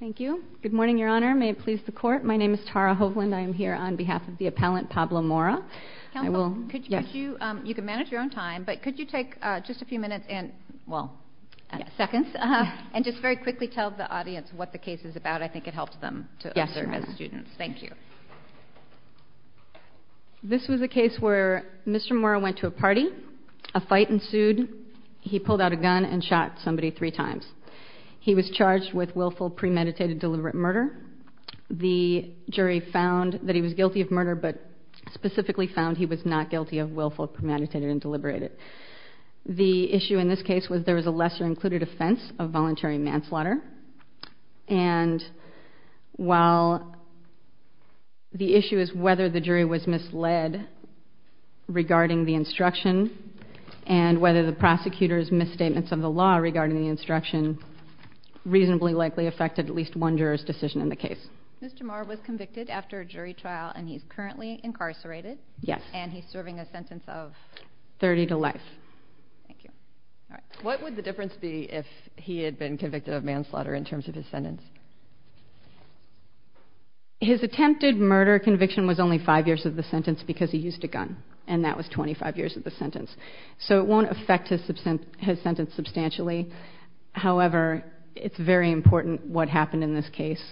Thank you. Good morning, Your Honor. May it please the court. My name is Tara Hovland. I am here on behalf of the appellant, Pablo Mora. I will, yes, you, um, you can manage your own time, but could you take, uh, just a few minutes and well, seconds, uh, and just very quickly tell the audience what the case is about. I think it helps them to serve as students. Thank you. This was a case where Mr. Mora went to a party, a fight ensued. He pulled out a gun and shot somebody three times. He was charged with willful premeditated deliberate murder. The jury found that he was guilty of murder, but specifically found he was not guilty of willful premeditated and deliberated. The issue in this case was there was a lesser included offense of voluntary manslaughter, and while the issue is whether the jury was misled regarding the instruction and whether the prosecutor's misstatements of the law regarding the instruction reasonably likely affected at least one juror's decision in the case. Mr. Mora was convicted after a jury trial and he's currently incarcerated. Yes. And he's serving a sentence of 30 to life. Thank you. All right. What would the difference be if he had been convicted of manslaughter in terms of his sentence? His attempted murder conviction was only five years of the sentence because he used a gun and that was 25 years of the sentence. So it won't affect his sentence substantially. However, it's very important what happened in this case.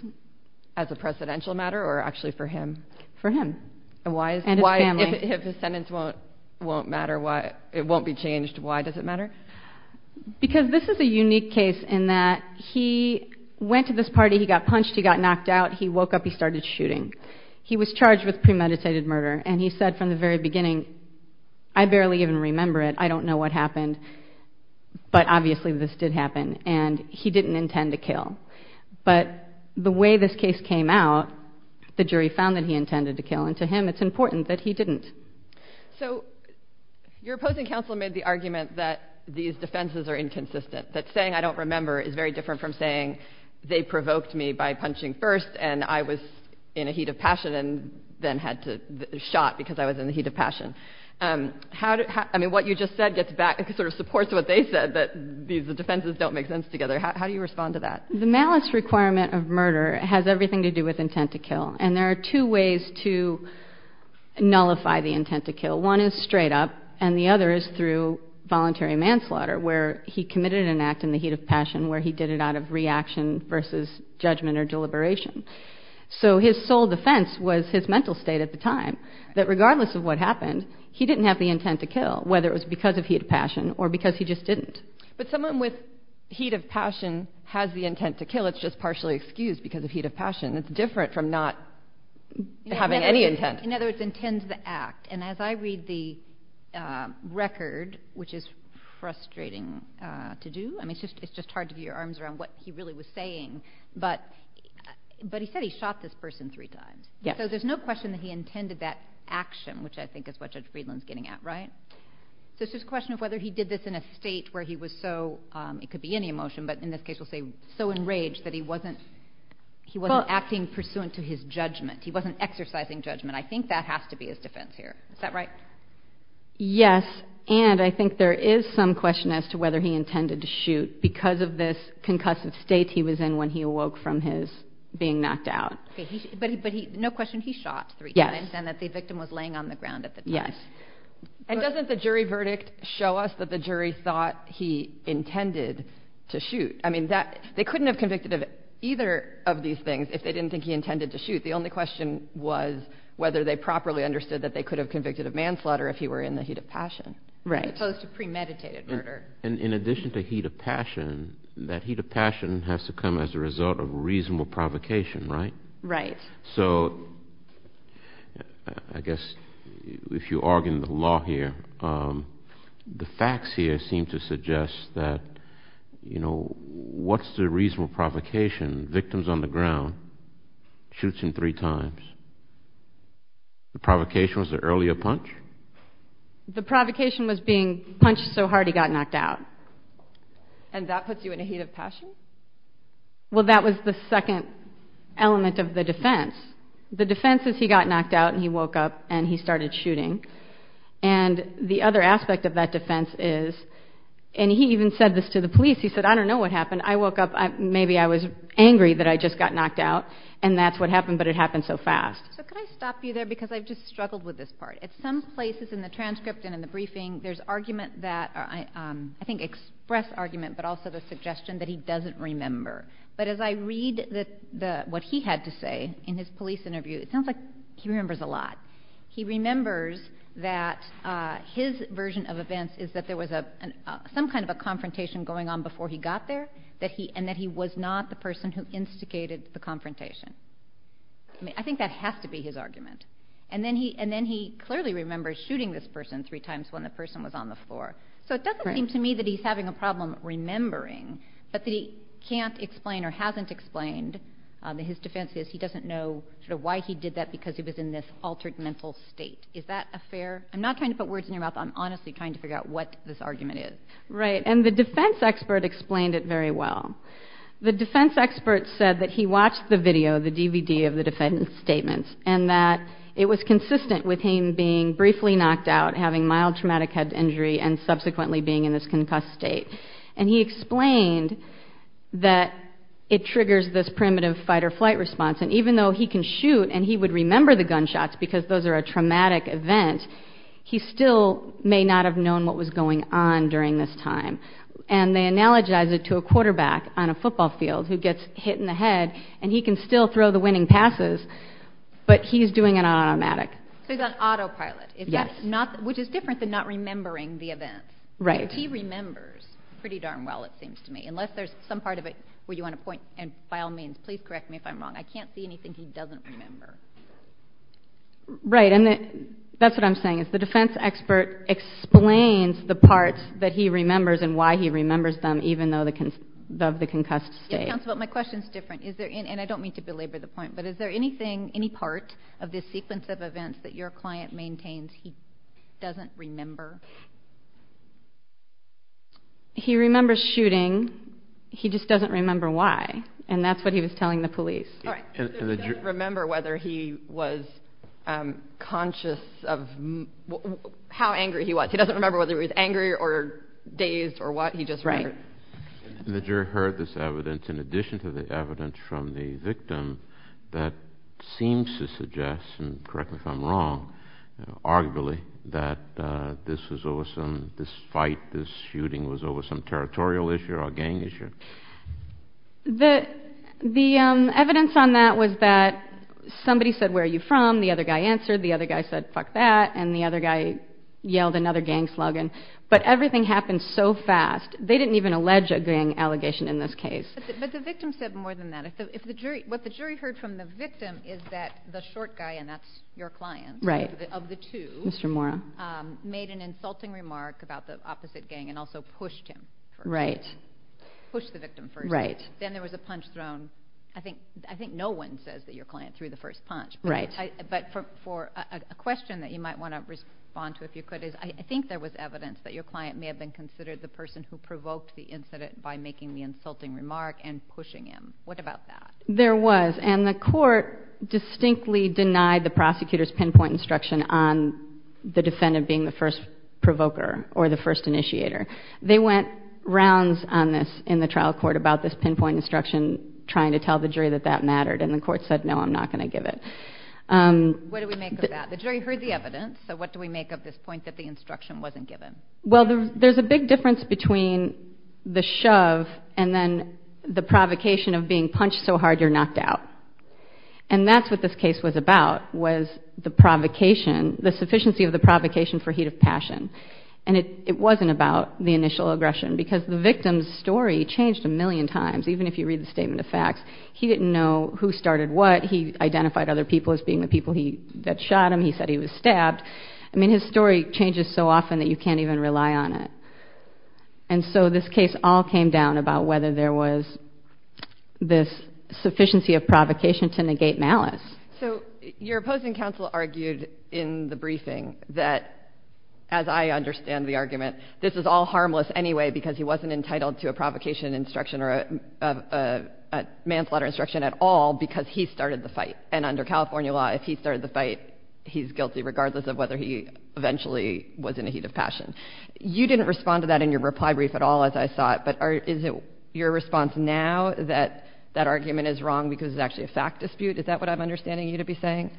As a presidential matter or actually for him? For him. And why? And his family. If his sentence won't matter, it won't be changed, why does it matter? Because this is a unique case in that he went to this party, he got punched, he got knocked out, he woke up, he started shooting. He was charged with premeditated murder and he said from the very beginning, I barely even remember it, I don't know what happened. But obviously this did happen and he didn't intend to kill. But the way this case came out, the jury found that he intended to kill. And to him, it's important that he didn't. So your opposing counsel made the argument that these defenses are inconsistent. That saying I don't remember is very different from saying they provoked me by punching first and I was in a heat of passion and then had to shot because I was in the heat of passion. How did, I mean, what you just said gets back, it sort of supports what they said, that these defenses don't make sense together. How do you respond to that? The malice requirement of murder has everything to do with intent to kill. And there are two ways to nullify the intent to kill. One is straight up and the other is through voluntary manslaughter, where he committed an act in the heat of passion, where he did it out of reaction versus judgment or deliberation. So his sole defense was his mental state at the time, that regardless of what happened, he didn't have the intent to kill, whether it was because of heat of passion or because he just didn't. But someone with heat of passion has the intent to kill. It's just partially excused because of heat of passion. It's different from not having any intent. In other words, intends to act. And as I read the record, which is frustrating to do, I mean, it's just, it's just hard to get your arms around what he really was saying, but, but he said he shot this person three times. So there's no question that he intended that action, which I think is what Judge Friedland's getting at, right? So it's just a question of whether he did this in a state where he was so, um, it could be any emotion, but in this case we'll say so enraged that he wasn't, he wasn't acting pursuant to his judgment. He wasn't exercising judgment. I think that has to be his defense here. Is that right? Yes. And I think there is some question as to whether he intended to shoot because of this concussive state he was in when he awoke from his being knocked out. Okay. He, but he, but he, no question. He shot three times and that the victim was laying on the ground at the time. And doesn't the jury verdict show us that the jury thought he intended to shoot? I mean that they couldn't have convicted of either of these things if they didn't think he intended to shoot. The only question was whether they properly understood that they could have convicted of manslaughter if he were in the heat of passion. Right. As opposed to premeditated murder. And in addition to heat of passion, that heat of passion has to come as a result of reasonable provocation, right? Right. So I guess if you argue the law here, the facts here seem to suggest that, you know, what's the reasonable provocation? Victims on the ground, shoots him three times. The provocation was the earlier punch? The provocation was being punched so hard he got knocked out. And that puts you in a heat of passion? Well, that was the second element of the defense. The defense is he got knocked out and he woke up and he started shooting. And the other aspect of that defense is, and he even said this to the police, he said, I don't know what happened. I woke up, maybe I was angry that I just got knocked out and that's what happened, but it happened so fast. So could I stop you there? Because I've just struggled with this part. But as I read what he had to say in his police interview, it sounds like he remembers a lot. He remembers that his version of events is that there was some kind of a confrontation going on before he got there and that he was not the person who instigated the confrontation. I mean, I think that has to be his argument. And then he clearly remembers shooting this person three times when the person was on the floor. So it doesn't seem to me that he's having a problem remembering, but that can't explain or hasn't explained that his defense is he doesn't know sort of why he did that because he was in this altered mental state. Is that a fair, I'm not trying to put words in your mouth. I'm honestly trying to figure out what this argument is. Right. And the defense expert explained it very well. The defense expert said that he watched the video, the DVD of the defense statements, and that it was consistent with him being briefly knocked out, having mild traumatic head injury, and subsequently being in this concussed state. And he explained that it triggers this primitive fight or flight response. And even though he can shoot and he would remember the gunshots because those are a traumatic event, he still may not have known what was going on during this time. And they analogize it to a quarterback on a football field who gets hit in the head and he can still throw the winning passes, but he's doing it on automatic. So he's on autopilot, which is different than not remembering the event. Right. He remembers pretty darn well, it seems to me, unless there's some part of it where you want to point and by all means, please correct me if I'm wrong. I can't see anything he doesn't remember. Right. And that's what I'm saying is the defense expert explains the parts that he remembers and why he remembers them, even though the, of the concussed state. Counselor, my question is different. Is there, and I don't mean to belabor the point, but is there anything, any part of this sequence of events that your client maintains he doesn't remember? He remembers shooting. He just doesn't remember why. And that's what he was telling the police. All right. Remember whether he was conscious of how angry he was. He doesn't remember whether he was angry or dazed or what he just heard. And the jury heard this evidence in addition to the evidence from the victim that seems to suggest, and correct me if I'm wrong, arguably that this was shooting was over some territorial issue or a gang issue. The, the evidence on that was that somebody said, where are you from? The other guy answered, the other guy said, fuck that. And the other guy yelled another gang slogan, but everything happened so fast. They didn't even allege a gang allegation in this case. But the victim said more than that. If the, if the jury, what the jury heard from the victim is that the short guy, and that's your client of the two, made an insulting remark about the opposite gang and also pushed him, pushed the victim first, then there was a punch thrown. I think, I think no one says that your client threw the first punch, but for a question that you might want to respond to, if you could, is I think there was evidence that your client may have been considered the person who provoked the incident by making the insulting remark and pushing him. What about that? There was, and the court distinctly denied the prosecutor's pinpoint instruction on the defendant being the first provoker or the first initiator. They went rounds on this in the trial court about this pinpoint instruction, trying to tell the jury that that mattered. And the court said, no, I'm not going to give it. What do we make of that? The jury heard the evidence. So what do we make of this point that the instruction wasn't given? Well, there's a big difference between the shove and then the provocation of being punched so hard you're knocked out. And that's what this case was about, was the provocation, the sufficiency of the provocation for heat of passion. And it wasn't about the initial aggression because the victim's story changed a million times. Even if you read the statement of facts, he didn't know who started what. He identified other people as being the people that shot him. He said he was stabbed. I mean, his story changes so often that you can't even rely on it. And so this case all came down about whether there was this sufficiency of provocation to negate malice. So your opposing counsel argued in the briefing that, as I understand the argument, this is all harmless anyway because he wasn't entitled to a provocation instruction or a manslaughter instruction at all because he started the fight. And under California law, if he started the fight, he's guilty regardless of whether he eventually was in a heat of passion. You didn't respond to that in your reply brief at all, as I saw it. But is it your response now that that argument is wrong because it's actually a fact dispute? Is that what I'm understanding you to be saying?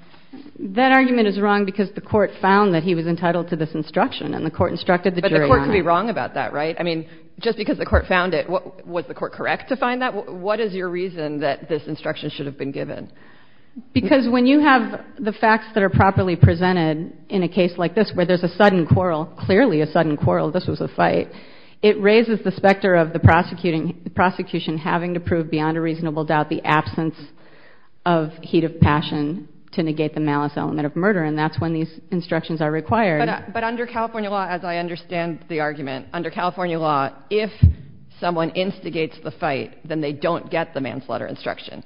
That argument is wrong because the court found that he was entitled to this instruction and the court instructed the jury. But the court could be wrong about that, right? I mean, just because the court found it, was the court correct to find that? What is your reason that this instruction should have been given? Because when you have the facts that are properly presented in a case like this, where there's a sudden quarrel, clearly a sudden quarrel, this was a fight, it raises the specter of the prosecuting, the prosecution having to prove beyond a reasonable doubt, the absence of heat of passion to negate the malice element of murder. And that's when these instructions are required. But under California law, as I understand the argument, under California law, if someone instigates the fight, then they don't get the manslaughter instruction.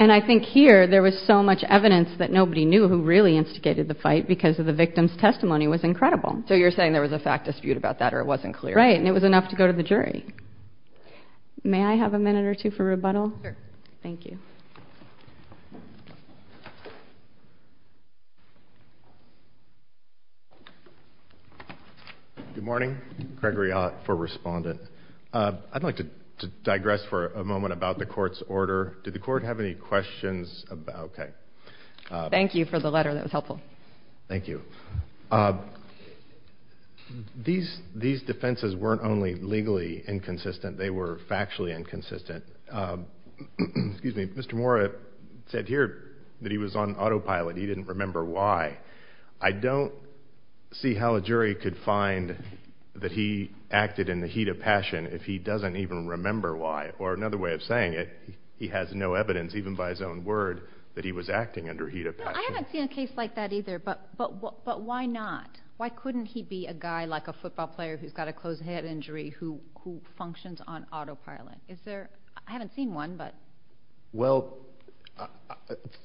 And I think here there was so much evidence that nobody knew who really instigated the fight because of the victim's testimony was incredible. So you're saying there was a fact dispute about that or it wasn't clear? Right. And it was enough to go to the jury. May I have a minute or two for rebuttal? Thank you. Good morning. Gregory Ott for Respondent. I'd like to digress for a moment about the court's order. Did the court have any questions? OK. Thank you for the letter. That was helpful. Thank you. These defenses weren't only legally inconsistent, they were factually inconsistent. Excuse me. Mr. Mora said here that he was on autopilot. He didn't remember why. I don't see how a jury could find that he acted in the heat of passion if he doesn't even remember why. Or another way of saying it, he has no evidence, even by his own word, that he was acting under heat of passion. I haven't seen a case like that either. But why not? Why couldn't he be a guy like a football player who's got a closed head injury who functions on autopilot? Is there? I haven't seen one, but. Well,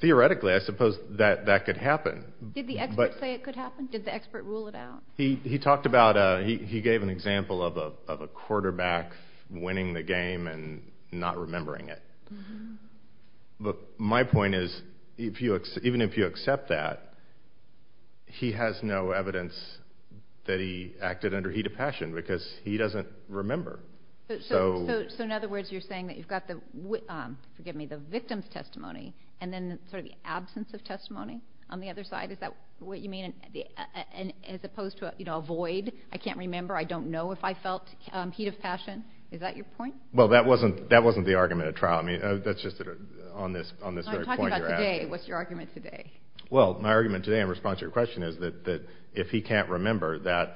theoretically, I suppose that that could happen. Did the expert say it could happen? Did the expert rule it out? He talked about he gave an example of a quarterback winning the game and not remembering it. But my point is, even if you accept that. He has no evidence that he acted under heat of passion because he doesn't remember. So in other words, you're saying that you've got the, forgive me, the victim's testimony and then sort of the absence of testimony on the other side. Is that what you mean? And as opposed to, you know, a void, I can't remember, I don't know if I felt heat of passion. Is that your point? Well, that wasn't that wasn't the argument at trial. I mean, that's just on this on this point. What's your argument today? Well, my argument today in response to your question is that that if he can't remember that,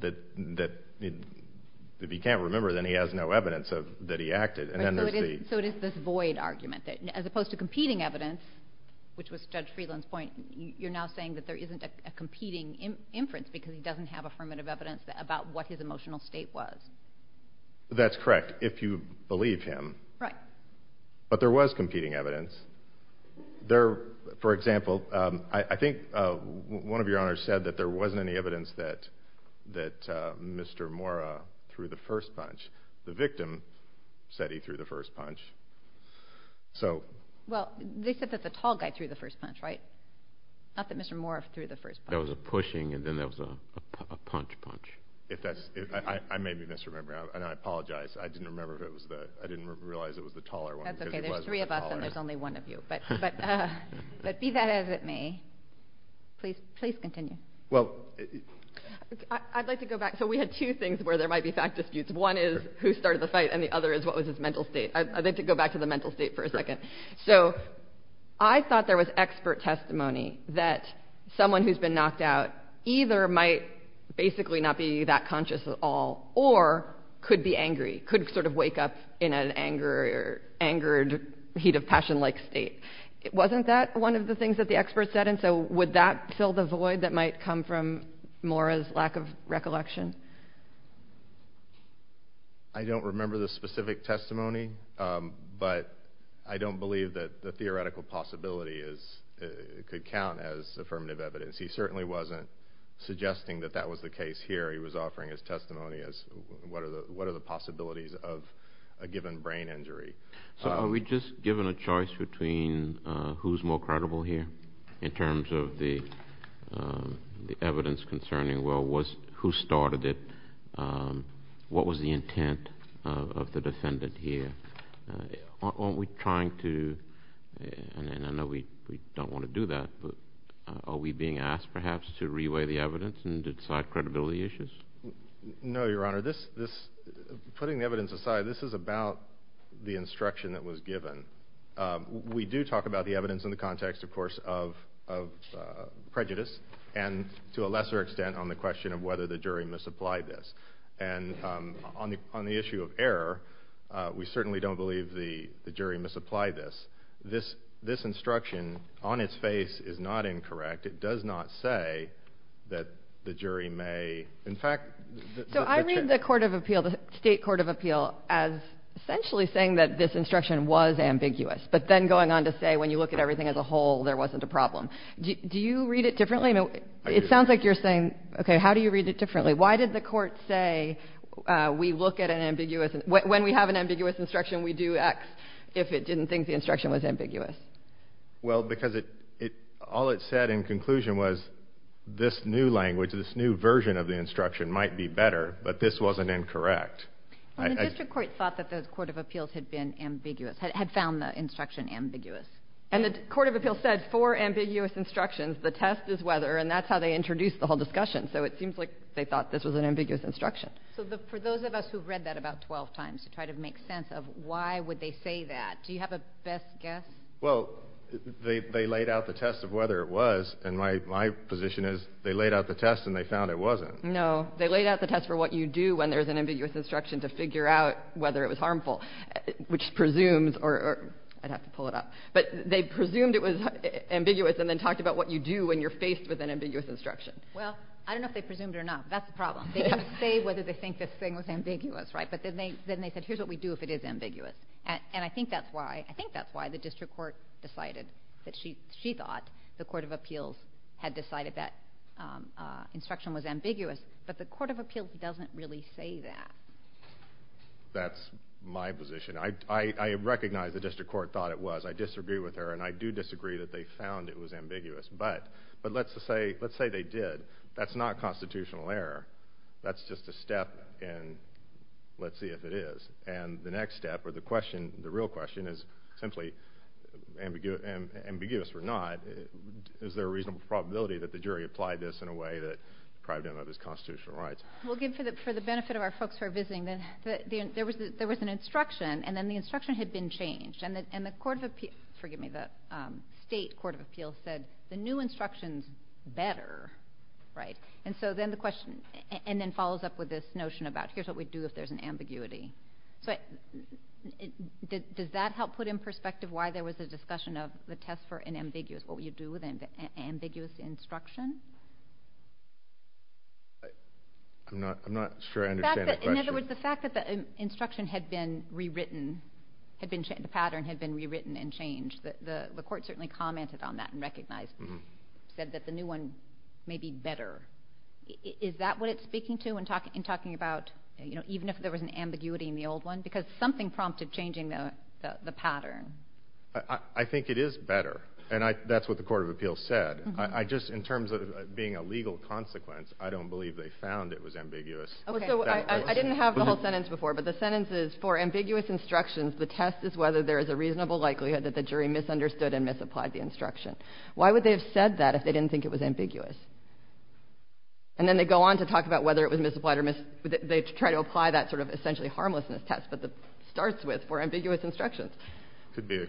that that if he can't remember, then he has no evidence that he acted. And so it is this void argument that as opposed to competing evidence, which was judge Friedland's point, you're now saying that there isn't a competing inference because he doesn't have affirmative evidence about what his emotional state was. That's correct. If you believe him. Right. But there was competing evidence there, for example, I think one of your honors said that there wasn't any evidence that that Mr. Mora threw the first punch. The victim said he threw the first punch. So, well, they said that the tall guy threw the first punch, right? Not that Mr. Mora threw the first. There was a pushing and then there was a punch punch. If that's I may be misremembering and I apologize. I didn't remember if it was that I didn't realize it was the taller one. That's OK. There's three of us and there's only one of you. But but but be that as it may, please, please continue. Well, I'd like to go back. So we had two things where there might be fact disputes. One is who started the fight and the other is what was his mental state? I'd like to go back to the mental state for a second. So I thought there was expert testimony that someone who's been knocked out either might basically not be that conscious at all or could be angry, could sort of wake up in an anger, angered, heat of passion like state. It wasn't that one of the things that the experts said. And so would that fill the void that might come from Mora's lack of recollection? I don't remember the specific testimony, but I don't believe that the theoretical possibility is it could count as affirmative evidence. He certainly wasn't suggesting that that was the case here. He was offering his testimony as what are the what are the possibilities of a given brain injury? So are we just given a choice between who's more credible here in terms of the the evidence concerning? Well, was who started it? What was the intent of the defendant here? Are we trying to and I know we we don't want to do that, but are we being asked perhaps to reweigh the evidence and decide credibility issues? No, Your Honor, this this putting the evidence aside, this is about the instruction that was given. We do talk about the evidence in the context, of course, of of prejudice and to a lesser extent on the question of whether the jury misapplied this. And on the on the issue of error, we certainly don't believe the jury misapplied this. This this instruction on its face is not incorrect. It does not say that the jury may. In fact, so I read the court of appeal, the state court of appeal as essentially saying that this instruction was ambiguous. But then going on to say, when you look at everything as a whole, there wasn't a problem. Do you read it differently? It sounds like you're saying, OK, how do you read it differently? Why did the court say we look at an ambiguous and when we have an ambiguous instruction, we do X if it didn't think the instruction was ambiguous? Well, because it it all it said in conclusion was this new language, this new version of the instruction might be better. But this wasn't incorrect. And the district court thought that the court of appeals had been ambiguous, had found the instruction ambiguous. And the court of appeals said for ambiguous instructions, the test is whether and that's how they introduced the whole discussion. So it seems like they thought this was an ambiguous instruction. So for those of us who've read that about 12 times to try to make sense of why would they say that? Do you have a best guess? Well, they laid out the test of whether it was. And my my position is they laid out the test and they found it wasn't. No, they laid out the test for what you do when there's an ambiguous instruction to figure out whether it was harmful, which presumes or I'd have to pull it up. But they presumed it was ambiguous and then talked about what you do when you're faced with an ambiguous instruction. Well, I don't know if they presumed or not. That's the problem. They didn't say whether they think this thing was ambiguous. Right. But then they then they said, here's what we do if it is ambiguous. And I think that's why I think that's why the district court decided that she she thought the court of appeals had decided that instruction was ambiguous. But the court of appeals doesn't really say that. That's my position. I recognize the district court thought it was I disagree with her, and I do disagree that they found it was ambiguous. But but let's just say let's say they did. That's not constitutional error. That's just a step in. Let's see if it is. And the next step or the question, the real question is simply ambiguous and ambiguous or not. Is there a reasonable probability that the jury applied this in a way that probably didn't have his constitutional rights? We'll give for the for the benefit of our folks who are visiting. Then there was there was an instruction and then the instruction had been changed. And the and the court of appeals forgive me, the state court of appeals said the new instructions better. Right. And so then the question and then follows up with this notion about here's what we do if there's an ambiguity. So does that help put in perspective why there was a discussion of the test for an ambiguous? What would you do with an ambiguous instruction? I'm not I'm not sure I understand. In other words, the fact that the instruction had been rewritten, had been the pattern had been rewritten and changed, that the court certainly commented on that and recognized said that the new one may be better. Is that what it's speaking to and talking and talking about, you know, even if there was an ambiguity in the old one, because something prompted changing the the pattern. I think it is better. And that's what the court of appeals said. I just in terms of being a legal consequence, I don't believe they found it was ambiguous. OK, so I didn't have the whole sentence before, but the sentence is for ambiguous instructions. The test is whether there is a reasonable likelihood that the jury misunderstood and misapplied the instruction. Why would they have said that if they didn't think it was ambiguous? And then they go on to talk about whether it was misapplied or mis they try to apply that sort of essentially harmlessness test, but the starts with were ambiguous instructions could be.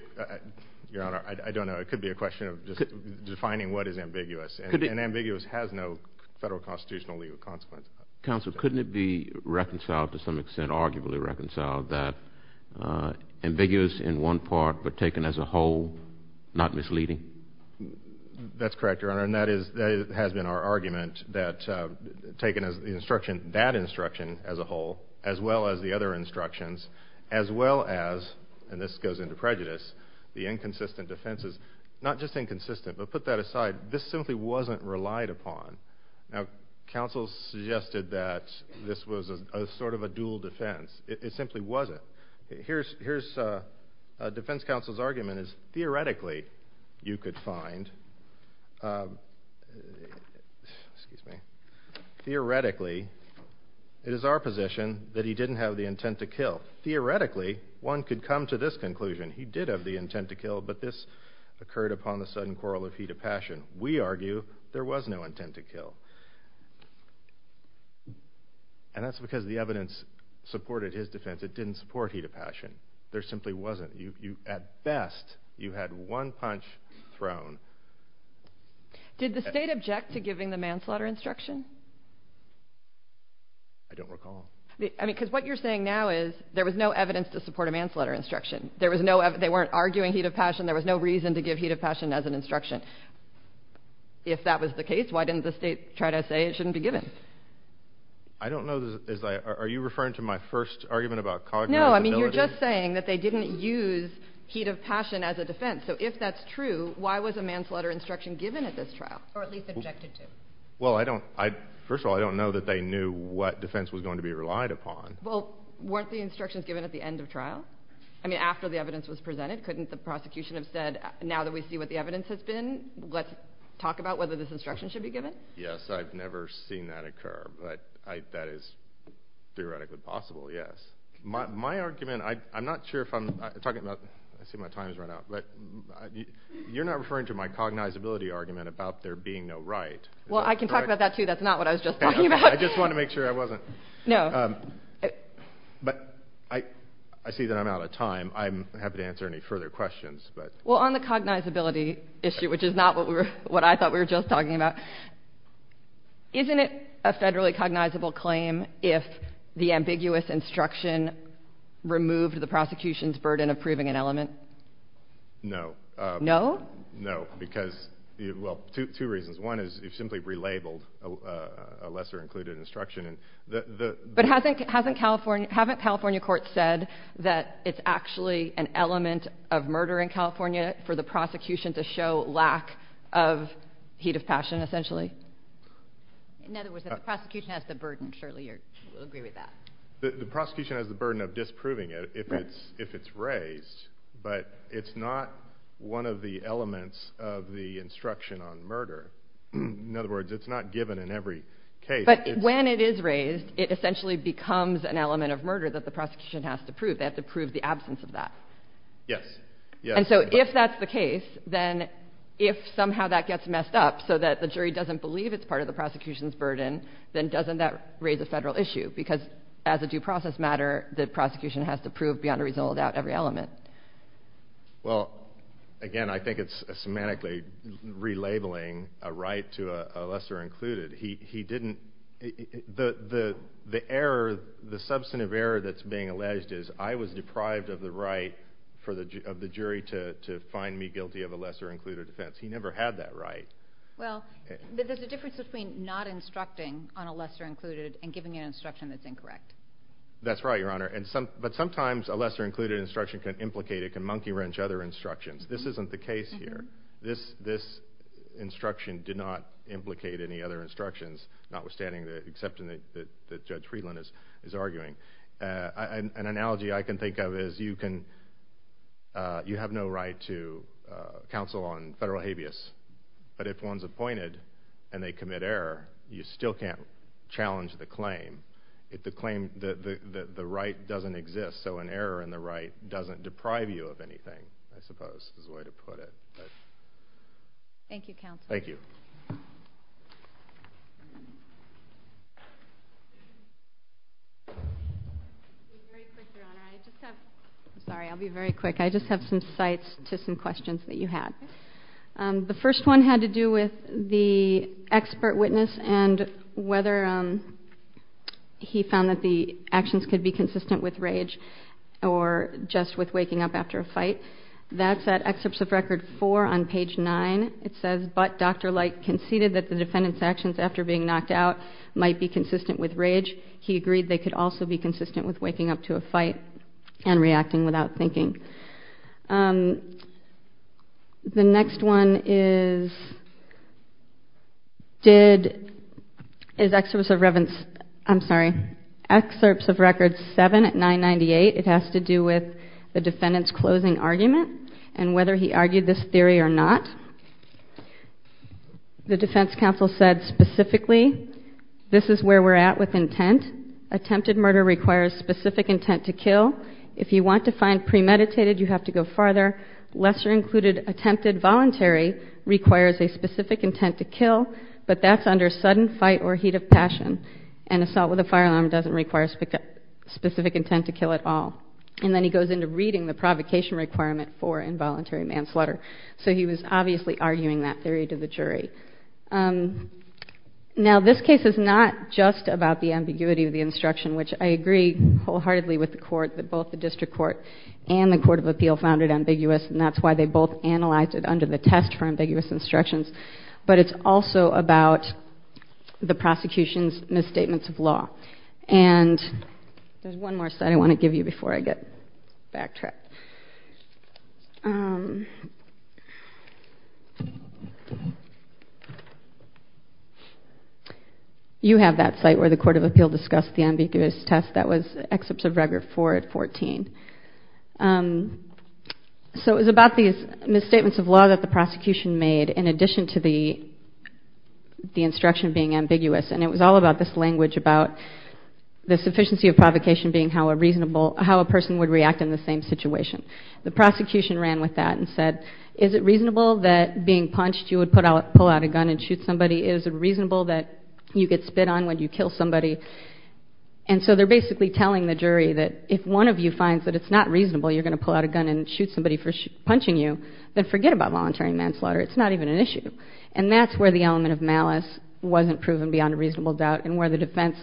Your Honor, I don't know. It could be a question of just defining what is ambiguous and ambiguous has no federal constitutional legal consequence. Counsel, couldn't it be reconciled to some extent, arguably reconciled that ambiguous in one part, but taken as a whole, not misleading? That's correct, Your Honor. And that is that has been our argument that taken as the instruction, that instruction as a whole, as well as the other instructions, as well as. And this goes into prejudice. The inconsistent defense is not just inconsistent, but put that aside. This simply wasn't relied upon. Now, counsel suggested that this was a sort of a dual defense. It simply wasn't. Here's here's a defense counsel's argument is theoretically you could find, excuse me. Theoretically, it is our position that he didn't have the intent to kill. Theoretically, one could come to this conclusion. He did have the intent to kill. But this occurred upon the sudden quarrel of heat of passion. We argue there was no intent to kill. And that's because the evidence supported his defense. It didn't support heat of passion. There simply wasn't. You at best, you had one punch thrown. Did the state object to giving the manslaughter instruction? I don't recall. I mean, because what you're saying now is there was no evidence to support a manslaughter instruction. There was no they weren't arguing heat of passion. There was no reason to give heat of passion as an instruction. If that was the case, why didn't the state try to say it shouldn't be given? I don't know. Is are you referring to my first argument about cog? No, I mean, you're just saying that they didn't use heat of passion as a defense. So if that's true, why was a manslaughter instruction given at this trial? Or at least objected to. Well, I don't, I, first of all, I don't know that they knew what defense was going to be relied upon. Well, weren't the instructions given at the end of trial? I mean, after the evidence was presented, couldn't the prosecution have said, now that we see what the evidence has been, let's talk about whether this instruction should be given? Yes, I've never seen that occur, but I, that is theoretically possible, yes. My, my argument, I, I'm not sure if I'm talking about, I see my time's run out, but you're not referring to my cognizability argument about there being no right. Well, I can talk about that too. That's not what I was just talking about. I just wanted to make sure I wasn't. No. But I, I see that I'm out of time. I'm happy to answer any further questions, but. Well, on the cognizability issue, which is not what we were, what I thought we were just talking about, isn't it a federally cognizable claim if the ambiguous instruction removed the prosecution's burden of proving an element? No. No? No, because, well, two, two reasons. One is, you've simply relabeled a, a lesser included instruction, and the, the. But hasn't, hasn't California, haven't California courts said that it's actually an element of murder in California for the prosecution to show lack of heat of passion, essentially? In other words, if the prosecution has the burden, surely you'll agree with that. The, the prosecution has the burden of disproving it if it's, if it's raised. But it's not one of the elements of the instruction on murder. In other words, it's not given in every case. But when it is raised, it essentially becomes an element of murder that the prosecution has to prove. They have to prove the absence of that. Yes. Yes. And so if that's the case, then if somehow that gets messed up so that the jury doesn't believe it's part of the prosecution's burden, then doesn't that raise a federal issue? Because as a due process matter, the prosecution has to prove beyond a reasonable doubt every element. Well, again, I think it's semantically relabeling a right to a, a lesser included. He, he didn't, the, the, the error, the substantive error that's being alleged is I was deprived of the right for the ju, of the jury to, to find me guilty of a lesser included offense. He never had that right. Well, there's a difference between not instructing on a lesser included and giving an instruction that's incorrect. That's right, your honor. And some, but sometimes a lesser included instruction can implicate, it can monkey wrench other instructions. This isn't the case here. This, this instruction did not implicate any other instructions, notwithstanding the, except in the, the, the Judge Friedland is, is arguing. I, I, an analogy I can think of is you can you have no right to counsel on federal habeas, but if one's appointed and they commit error, you still can't challenge the claim. If the claim, the, the, the, the right doesn't exist, so an error in the right doesn't deprive you of anything, I suppose, is the way to put it, but. Thank you, counsel. Thank you. Very quickly, your honor, I just have, sorry, I'll be very quick. I just have some cites to some questions that you had. The first one had to do with the expert witness and whether he found that the actions could be consistent with rage or just with waking up after a fight. That's at excerpts of record four on page nine. It says, but Dr. Light conceded that the defendant's actions after being knocked out might be consistent with rage. He agreed they could also be consistent with waking up to a fight and the next one is, did, is excerpts of Reven's, I'm sorry, excerpts of record seven at 998, it has to do with the defendant's closing argument and whether he argued this theory or not. The defense counsel said specifically, this is where we're at with intent. Attempted murder requires specific intent to kill. If you want to find premeditated, you have to go farther. Lesser included attempted voluntary requires a specific intent to kill, but that's under sudden fight or heat of passion. An assault with a firearm doesn't require specific intent to kill at all. And then he goes into reading the provocation requirement for involuntary manslaughter. So he was obviously arguing that theory to the jury. Now this case is not just about the ambiguity of the instruction, which I agree wholeheartedly with the court that both the district court and the court of appeal found it ambiguous and that's why they both analyzed it under the test for ambiguous instructions, but it's also about the prosecution's misstatements of law. And there's one more site I want to give you before I get backtracked. You have that site where the court of appeal discussed the ambiguous test. That was excerpts of record four at 14. So it was about these misstatements of law that the prosecution made in addition to the, the instruction being ambiguous. And it was all about this language about the sufficiency of provocation being how a reasonable, how a person would react in the same situation. The prosecution ran with that and said, is it reasonable that being punched, you would put out, pull out a gun and shoot somebody? Is it reasonable that you get spit on when you kill somebody? And so they're basically telling the jury that if one of you finds that it's not reasonable, you're going to pull out a gun and shoot somebody for punching you, then forget about voluntary manslaughter. It's not even an issue. And that's where the element of malice wasn't proven beyond a reasonable doubt and where the defense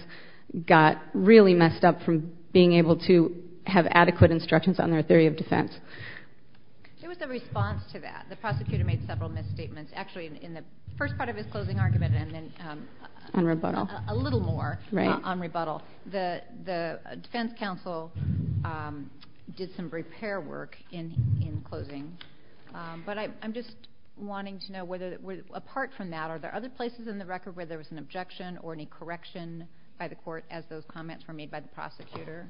got really messed up from being able to have adequate instructions on their theory of defense. There was a response to that. The prosecutor made several misstatements actually in the first part of his closing argument and then on rebuttal, a little more on rebuttal. The, the defense counsel did some repair work in, in closing. But I, I'm just wanting to know whether, apart from that, are there other places in the record where there was an objection or any correction by the court as those comments were made by the prosecutor?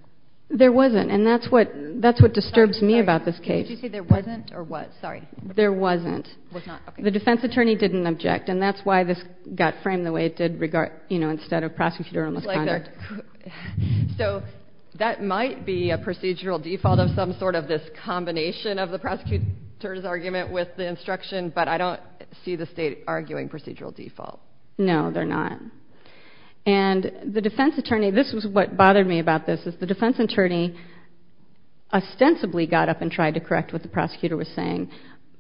There wasn't. And that's what, that's what disturbs me about this case. Did you say there wasn't or was? Sorry. There wasn't. The defense attorney didn't object. And that's why this got framed the way it did regard, you know, instead of prosecutor on misconduct. So that might be a procedural default of some sort of this combination of the prosecutor's argument with the instruction, but I don't see the state arguing procedural default. No, they're not. And the defense attorney, this was what bothered me about this is the defense attorney ostensibly got up and tried to correct what the prosecutor was saying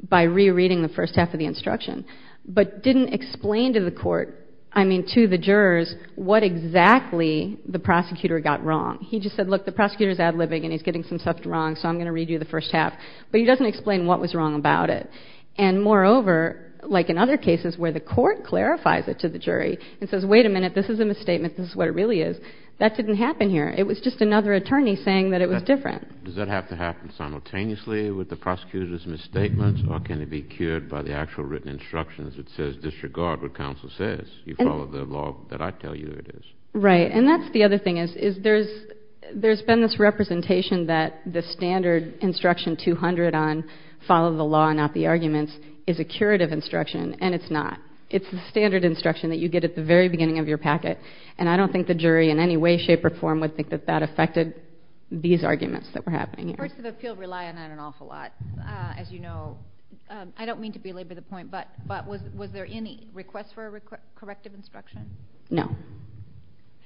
by rereading the first half of the instruction, but didn't explain to the court, I mean, to the jurors, what exactly the prosecutor got wrong. He just said, look, the prosecutor's ad-libbing and he's getting some stuff wrong, so I'm going to redo the first half, but he doesn't explain what was wrong about it. And moreover, like in other cases where the court clarifies it to the jury and says, wait a minute, this is a misstatement. This is what it really is. That didn't happen here. It was just another attorney saying that it was different. Does that have to happen simultaneously with the prosecutor's misstatements or can it be cured by the actual written instructions? It says, disregard what counsel says. You follow the law that I tell you it is. Right. And that's the other thing is, is there's, there's been this representation that the standard instruction 200 on follow the law, not the arguments is a curative instruction. And it's not. It's the standard instruction that you get at the very beginning of your packet. And I don't think the jury in any way, shape or form would think that that affected these arguments that were happening here. First of appeal rely on an awful lot. Uh, as you know, um, I don't mean to belabor the point, but, but was, was there any requests for a corrective instruction? No.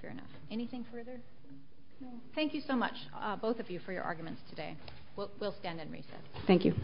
Fair enough. Anything further? Thank you so much. Uh, both of you for your arguments today. We'll, we'll stand and reset. Thank you.